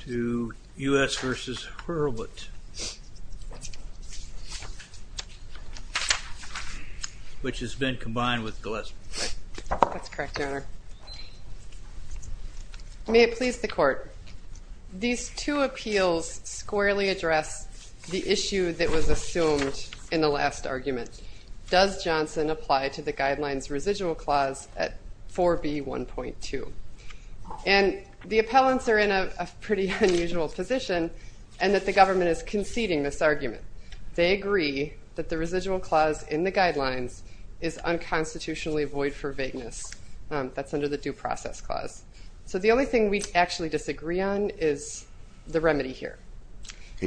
to U.S. v. Hurlbut, which has been combined with Gillespie. That's correct, your honor. May it please the court, these two appeals squarely address the issue that was assumed in the last argument. Does Johnson apply to the guidelines residual clause at 4b 1.2? And the appellants are in a pretty unusual position and that the government is conceding this argument. They agree that the residual clause in the guidelines is unconstitutionally void for vagueness. That's under the due process clause. So the only thing we actually disagree on is the remedy here.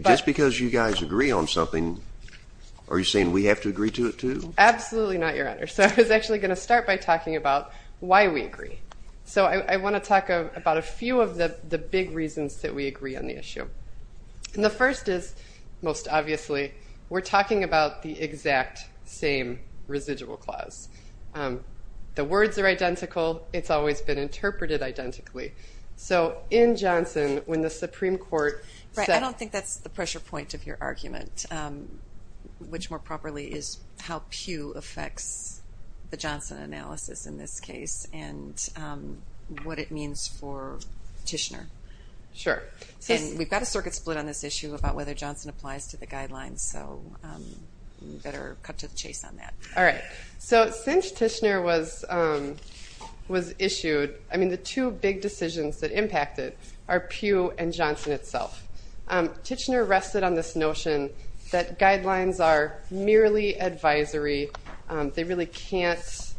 Just because you guys agree on something, are you saying we have to agree to it, too? Absolutely not, your honor. So I was actually going to start by talking about why we agree. So I want to talk about a few of the big reasons that we agree on the issue. And the first is, most obviously, we're talking about the exact same residual clause. The words are identical. It's always been interpreted identically. So in Johnson, when the Supreme Court said... I don't think that's the pressure point of your argument, which more properly is how Pew affects the Johnson analysis in this case, and what it means for Tishner. Sure. We've got a circuit split on this issue about whether Johnson applies to the guidelines, so we better cut to the chase on that. All right, so since Tishner was issued, I mean the two big decisions that impacted are Pew and Johnson itself. Tishner rested on this notion that guidelines are merely advisory. They really can't...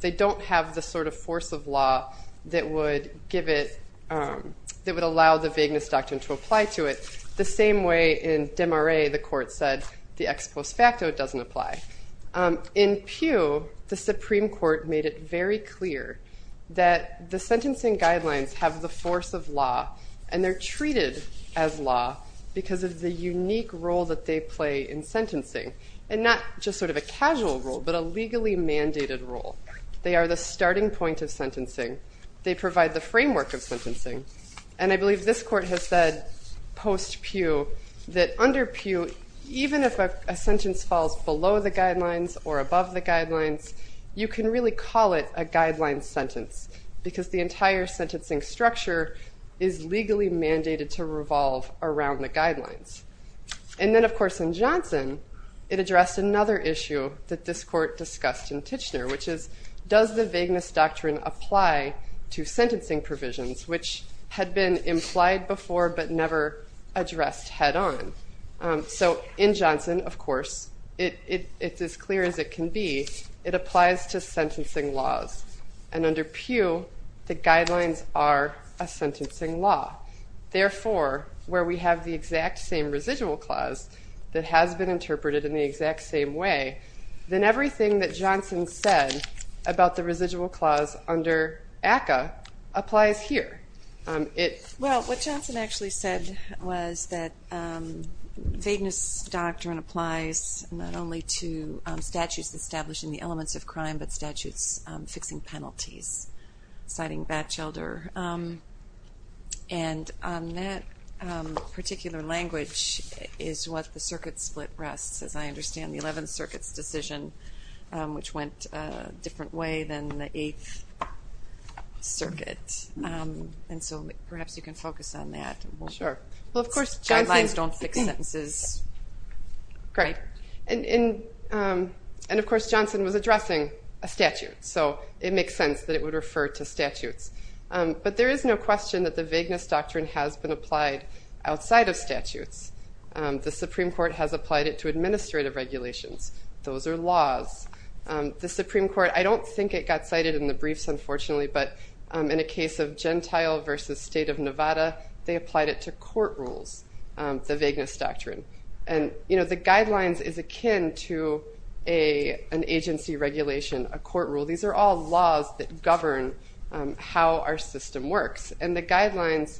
they don't have the sort of force of law that would give it... that would allow the vagueness doctrine to apply to it, the same way in Demarais the court said the ex post facto doesn't apply. In Pew, the Supreme Court made it very clear that the sentencing guidelines have the force of law, and they're treated as law because of the unique role that they play in sentencing, and not just sort of a casual role, but a legally mandated role. They are the starting point of sentencing. They provide the framework of sentencing, and I believe this court has said post Pew that under Pew, even if a sentence falls below the guidelines or above the guidelines, you can really call it a guideline sentence because the entire sentencing structure is legally mandated to revolve around the guidelines. And then of course in Johnson, it addressed another issue that this court discussed in Tishner, which is does the vagueness doctrine apply to sentencing provisions, which had been implied before but never addressed head-on. So in Johnson, of course, it's as clear as it can be, it applies to sentencing laws, and under Pew, the therefore, where we have the exact same residual clause that has been interpreted in the exact same way, then everything that Johnson said about the residual clause under ACCA applies here. Well, what Johnson actually said was that vagueness doctrine applies not only to statutes establishing the elements of That particular language is what the circuit split rests, as I understand, the Eleventh Circuit's decision, which went a different way than the Eighth Circuit, and so perhaps you can focus on that. Sure. Well, of course, guidelines don't fix sentences. Great, and of course Johnson was addressing a statute, so it makes sense that it would refer to statutes, but there is no question that the vagueness doctrine has been applied outside of statutes. The Supreme Court has applied it to administrative regulations. Those are laws. The Supreme Court, I don't think it got cited in the briefs, unfortunately, but in a case of Gentile versus State of Nevada, they applied it to court rules, the vagueness doctrine, and the guidelines is akin to an agency regulation, a court rule. These are all laws that govern how our system works, and the guidelines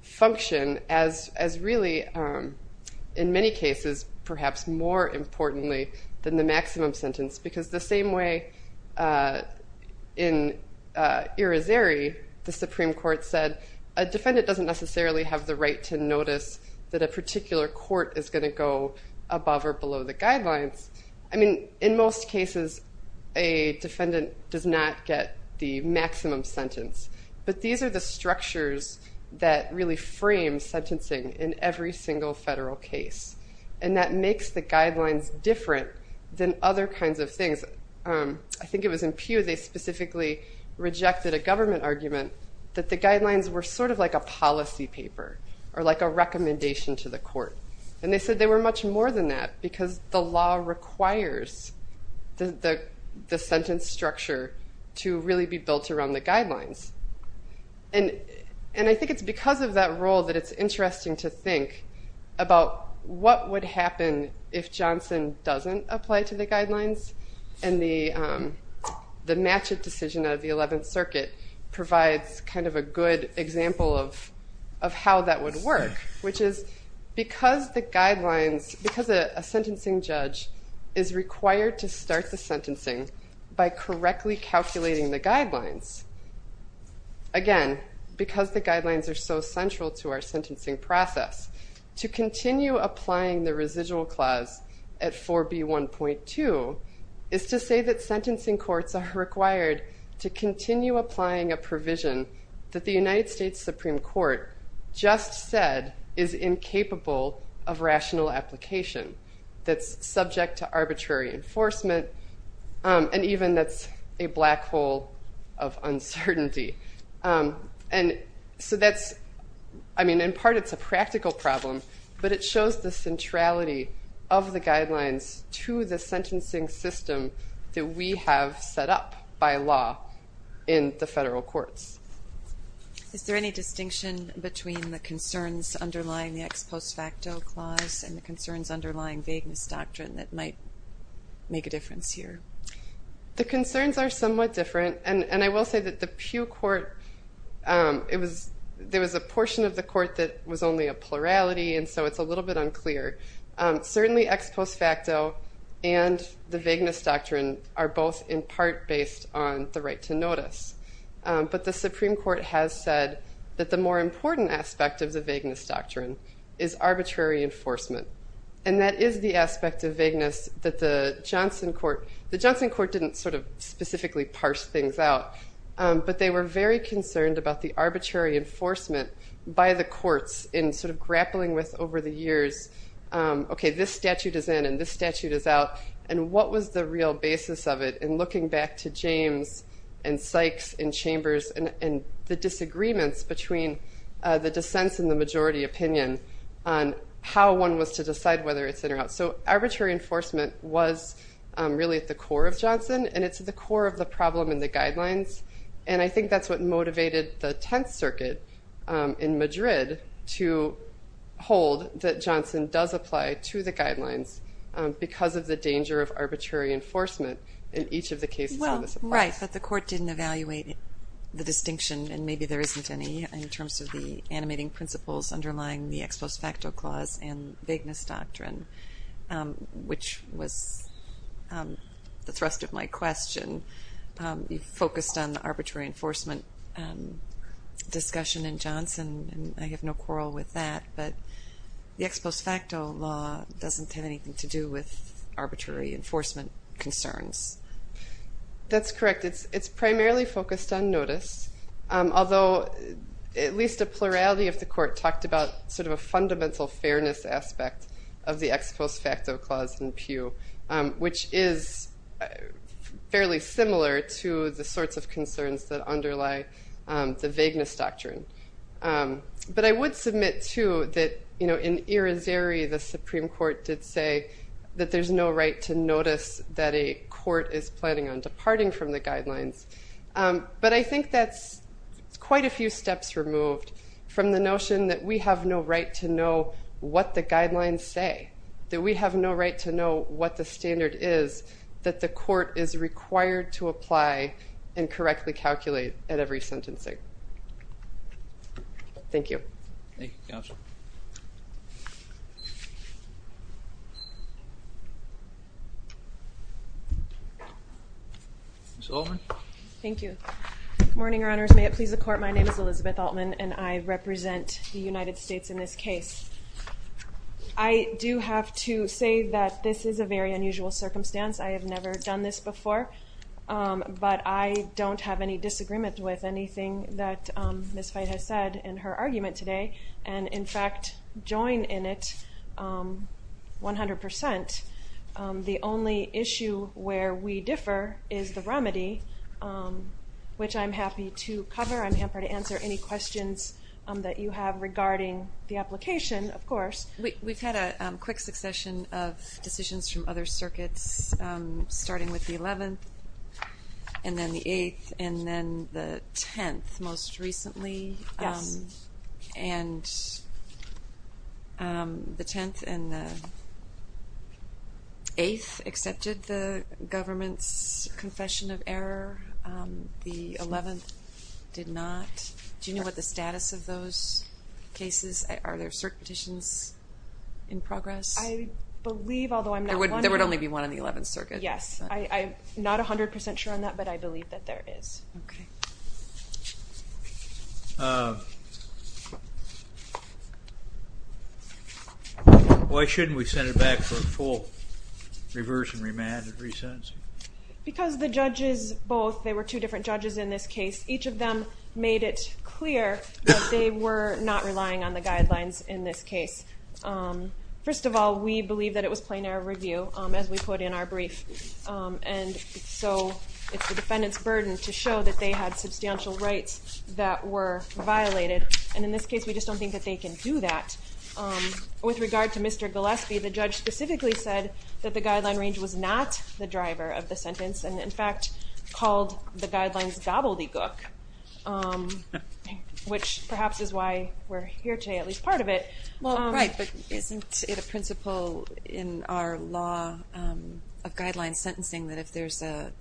function as really, in many cases, perhaps more importantly than the maximum sentence, because the same way in Irizarry, the Supreme Court said a defendant doesn't necessarily have the right to notice that a particular court is going to go does not get the maximum sentence, but these are the structures that really frame sentencing in every single federal case, and that makes the guidelines different than other kinds of things. I think it was in Pew, they specifically rejected a government argument that the guidelines were sort of like a policy paper, or like a recommendation to the court, and they said they were much more than that, because the law requires the sentence structure to really be built around the guidelines, and I think it's because of that role that it's interesting to think about what would happen if Johnson doesn't apply to the guidelines, and the Matchett decision of the Eleventh Circuit provides kind of a good example of how that would work, which is because the guidelines, because a sentencing judge is required to start the sentencing by correctly calculating the guidelines, again, because the guidelines are so central to our sentencing process, to continue applying the residual clause at 4B1.2 is to say that sentencing courts are required to continue applying a provision that the subject to arbitrary enforcement, and even that's a black hole of uncertainty, and so that's, I mean, in part it's a practical problem, but it shows the centrality of the guidelines to the sentencing system that we have set up by law in the federal courts. Is there any distinction between the concerns underlying the ex post facto clause and the concerns underlying vagueness doctrine that might make a difference here? The concerns are somewhat different, and I will say that the Pew Court, there was a portion of the court that was only a plurality, and so it's a little bit unclear. Certainly ex post facto and the vagueness doctrine are both in part based on the right to notice, but the vagueness doctrine is arbitrary enforcement, and that is the aspect of vagueness that the Johnson court, the Johnson court didn't sort of specifically parse things out, but they were very concerned about the arbitrary enforcement by the courts in sort of grappling with over the years, okay, this statute is in and this statute is out, and what was the real basis of it, and looking back to James and Sykes and Chambers and the disagreements between the dissents and the majority opinion on how one was to decide whether it's in or out. So arbitrary enforcement was really at the core of Johnson, and it's at the core of the problem in the guidelines, and I think that's what motivated the Tenth Circuit in Madrid to hold that Johnson does apply to the guidelines because of the danger of arbitrary enforcement in each of the cases. Well, right, but the court didn't evaluate the distinction, and maybe there isn't any in terms of the animating principles underlying the ex post facto clause and vagueness doctrine, which was the thrust of my question. You focused on the arbitrary enforcement discussion in Johnson, and I have no quarrel with that, but the ex post facto law doesn't have anything to do with arbitrary enforcement concerns. That's correct. It's primarily focused on notice, although at least a plurality of the court talked about sort of a fundamental fairness aspect of the ex post facto clause in Pew, which is fairly similar to the sorts of concerns that underlie the vagueness doctrine. But I would submit too that, you know, in a court is planning on departing from the guidelines, but I think that's quite a few steps removed from the notion that we have no right to know what the guidelines say, that we have no right to know what the standard is that the court is required to apply and correctly calculate at every sentencing. Thank you. Ms. Altman. Thank you. Good morning, Your Honors. May it please the Court, my name is Elizabeth Altman and I represent the United States in this case. I do have to say that this is a very unusual circumstance. I have never done this before, but I don't have any disagreement with anything that Ms. Fite has said in her argument today, and in fact join in it 100%. The only issue where we differ is the remedy, which I'm happy to cover. I'm happy to answer any questions that you have regarding the application, of course. We've had a quick succession of decisions from other circuits, starting with the 11th and then the 8th and then the 10th most recently. Yes. And the 10th and the 8th accepted the government's confession of error, the 11th did not. Do you know what the status of those cases, are there certain petitions in progress? I believe, although I'm not sure. There would only be one in the 11th circuit. Yes, I'm not a hundred percent sure on that, but I Why shouldn't we send it back for a full reverse and remand and re-sentencing? Because the judges both, they were two different judges in this case, each of them made it clear that they were not relying on the guidelines in this case. First of all, we believe that it was plenary review, as we put in our brief, and so it's the defendant's burden to show that they had substantial rights that were violated, and in this case we just don't think that they can do that. With regard to Mr. Gillespie, the judge specifically said that the guideline range was not the driver of the sentence and in fact called the guidelines gobbledygook, which perhaps is why we're here today, at least part of it. Well right, but isn't it a principle in our law of guideline sentencing that if there's a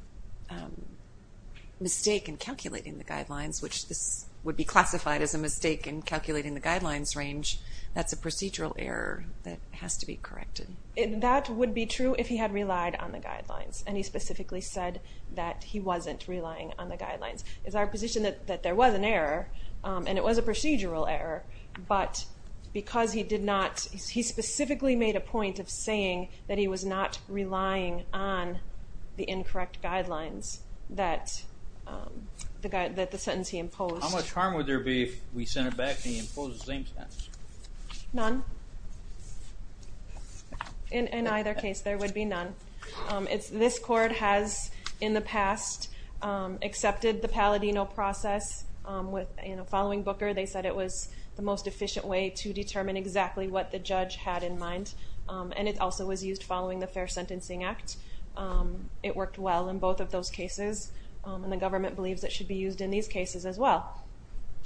mistake in calculating the guidelines, which this would be classified as a mistake in calculating the guidelines range, that's a procedural error that has to be corrected. That would be true if he had relied on the guidelines, and he specifically said that he wasn't relying on the guidelines. It's our position that there was an error and it was a procedural error, but because he did not, he specifically made a point of saying that he was not relying on the incorrect guidelines that the sentence he imposed. How much harm would there be if we sent it back and he imposed the same sentence? None. In either case there would be none. This court has in the past accepted the Palladino process with, you know, following Booker, they said it was the most efficient way to determine exactly what the judge had in mind, and it also was used following the Fair Sentencing Act. It worked well in both of those cases, and the government believes it should be used in these cases as well.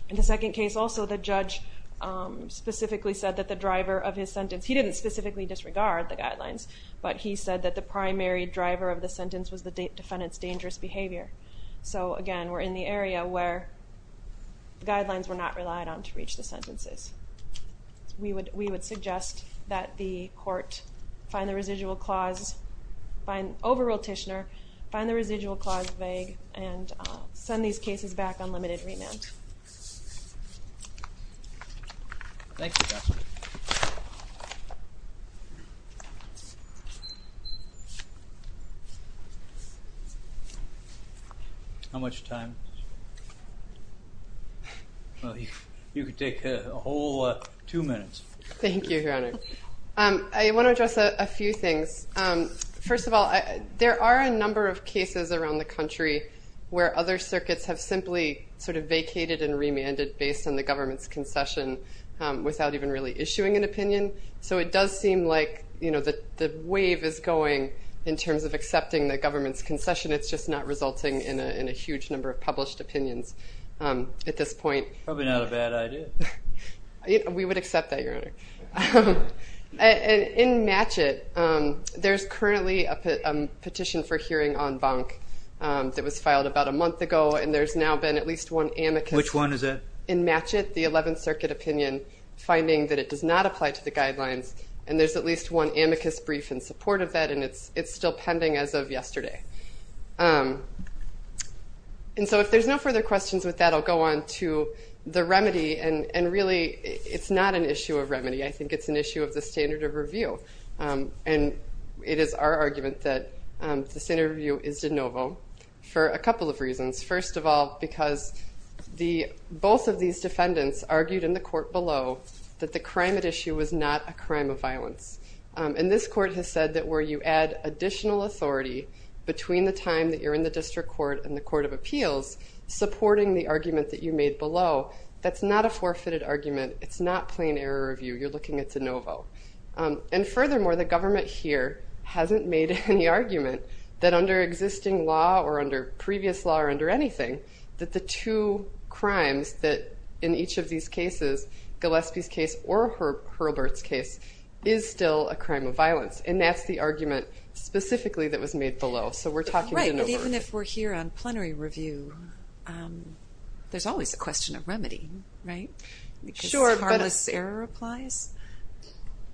In the second case also the judge specifically said that the driver of his sentence, he didn't specifically disregard the guidelines, but he said that the primary driver of the sentence was the defendant's dangerous behavior. So again, we're in the area where the suggest that the court find the residual clause, find overrule Tishner, find the residual clause vague, and send these cases back on limited remand. How much time? Well, you could take a whole two minutes. Thank you, Your Honor. I want to address a few things. First of all, there are a number of cases around the country where other circuits have simply sort of vacated and remanded based on the government's concession without even really issuing an opinion. So it does seem like, you know, the wave is going in terms of accepting the government's concession, it's just not resulting in a huge number of published opinions at this point. Probably not a bad idea. We would accept that, Your Honor. In currently a petition for hearing on Bonk that was filed about a month ago, and there's now been at least one amicus. Which one is it? In Matchett, the 11th Circuit opinion, finding that it does not apply to the guidelines, and there's at least one amicus brief in support of that, and it's still pending as of yesterday. And so if there's no further questions with that, I'll go on to the remedy, and really it's not an issue of remedy, I think it's an issue of the our argument that this interview is de novo for a couple of reasons. First of all, because the both of these defendants argued in the court below that the crime at issue was not a crime of violence. And this court has said that where you add additional authority between the time that you're in the district court and the Court of Appeals, supporting the argument that you made below, that's not a forfeited argument, it's not plain error review, you're hasn't made any argument that under existing law, or under previous law, or under anything, that the two crimes that in each of these cases, Gillespie's case or Hurlburt's case, is still a crime of violence. And that's the argument specifically that was made below. So we're talking de novo. Right, and even if we're here on plenary review, there's always a question of remedy, right? Because harmless error applies?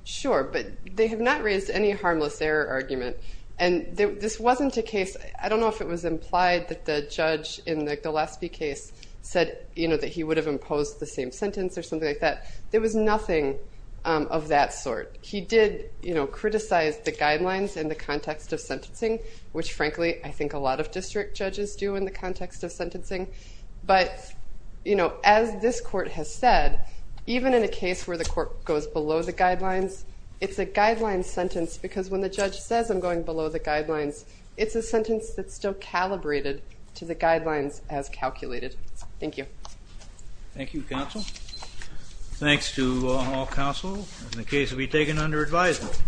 Sure, but they have not raised any harmless error argument. And this wasn't a case, I don't know if it was implied that the judge in the Gillespie case said, you know, that he would have imposed the same sentence or something like that. There was nothing of that sort. He did, you know, criticize the guidelines in the context of sentencing, which frankly I think a lot of district judges do in the context of sentencing. But, you know, as this court has said, even in a court that goes below the guidelines, it's a guideline sentence because when the judge says, I'm going below the guidelines, it's a sentence that's still calibrated to the guidelines as calculated. Thank you. Thank you, counsel. Thanks to all counsel. The case will be taken under advisement.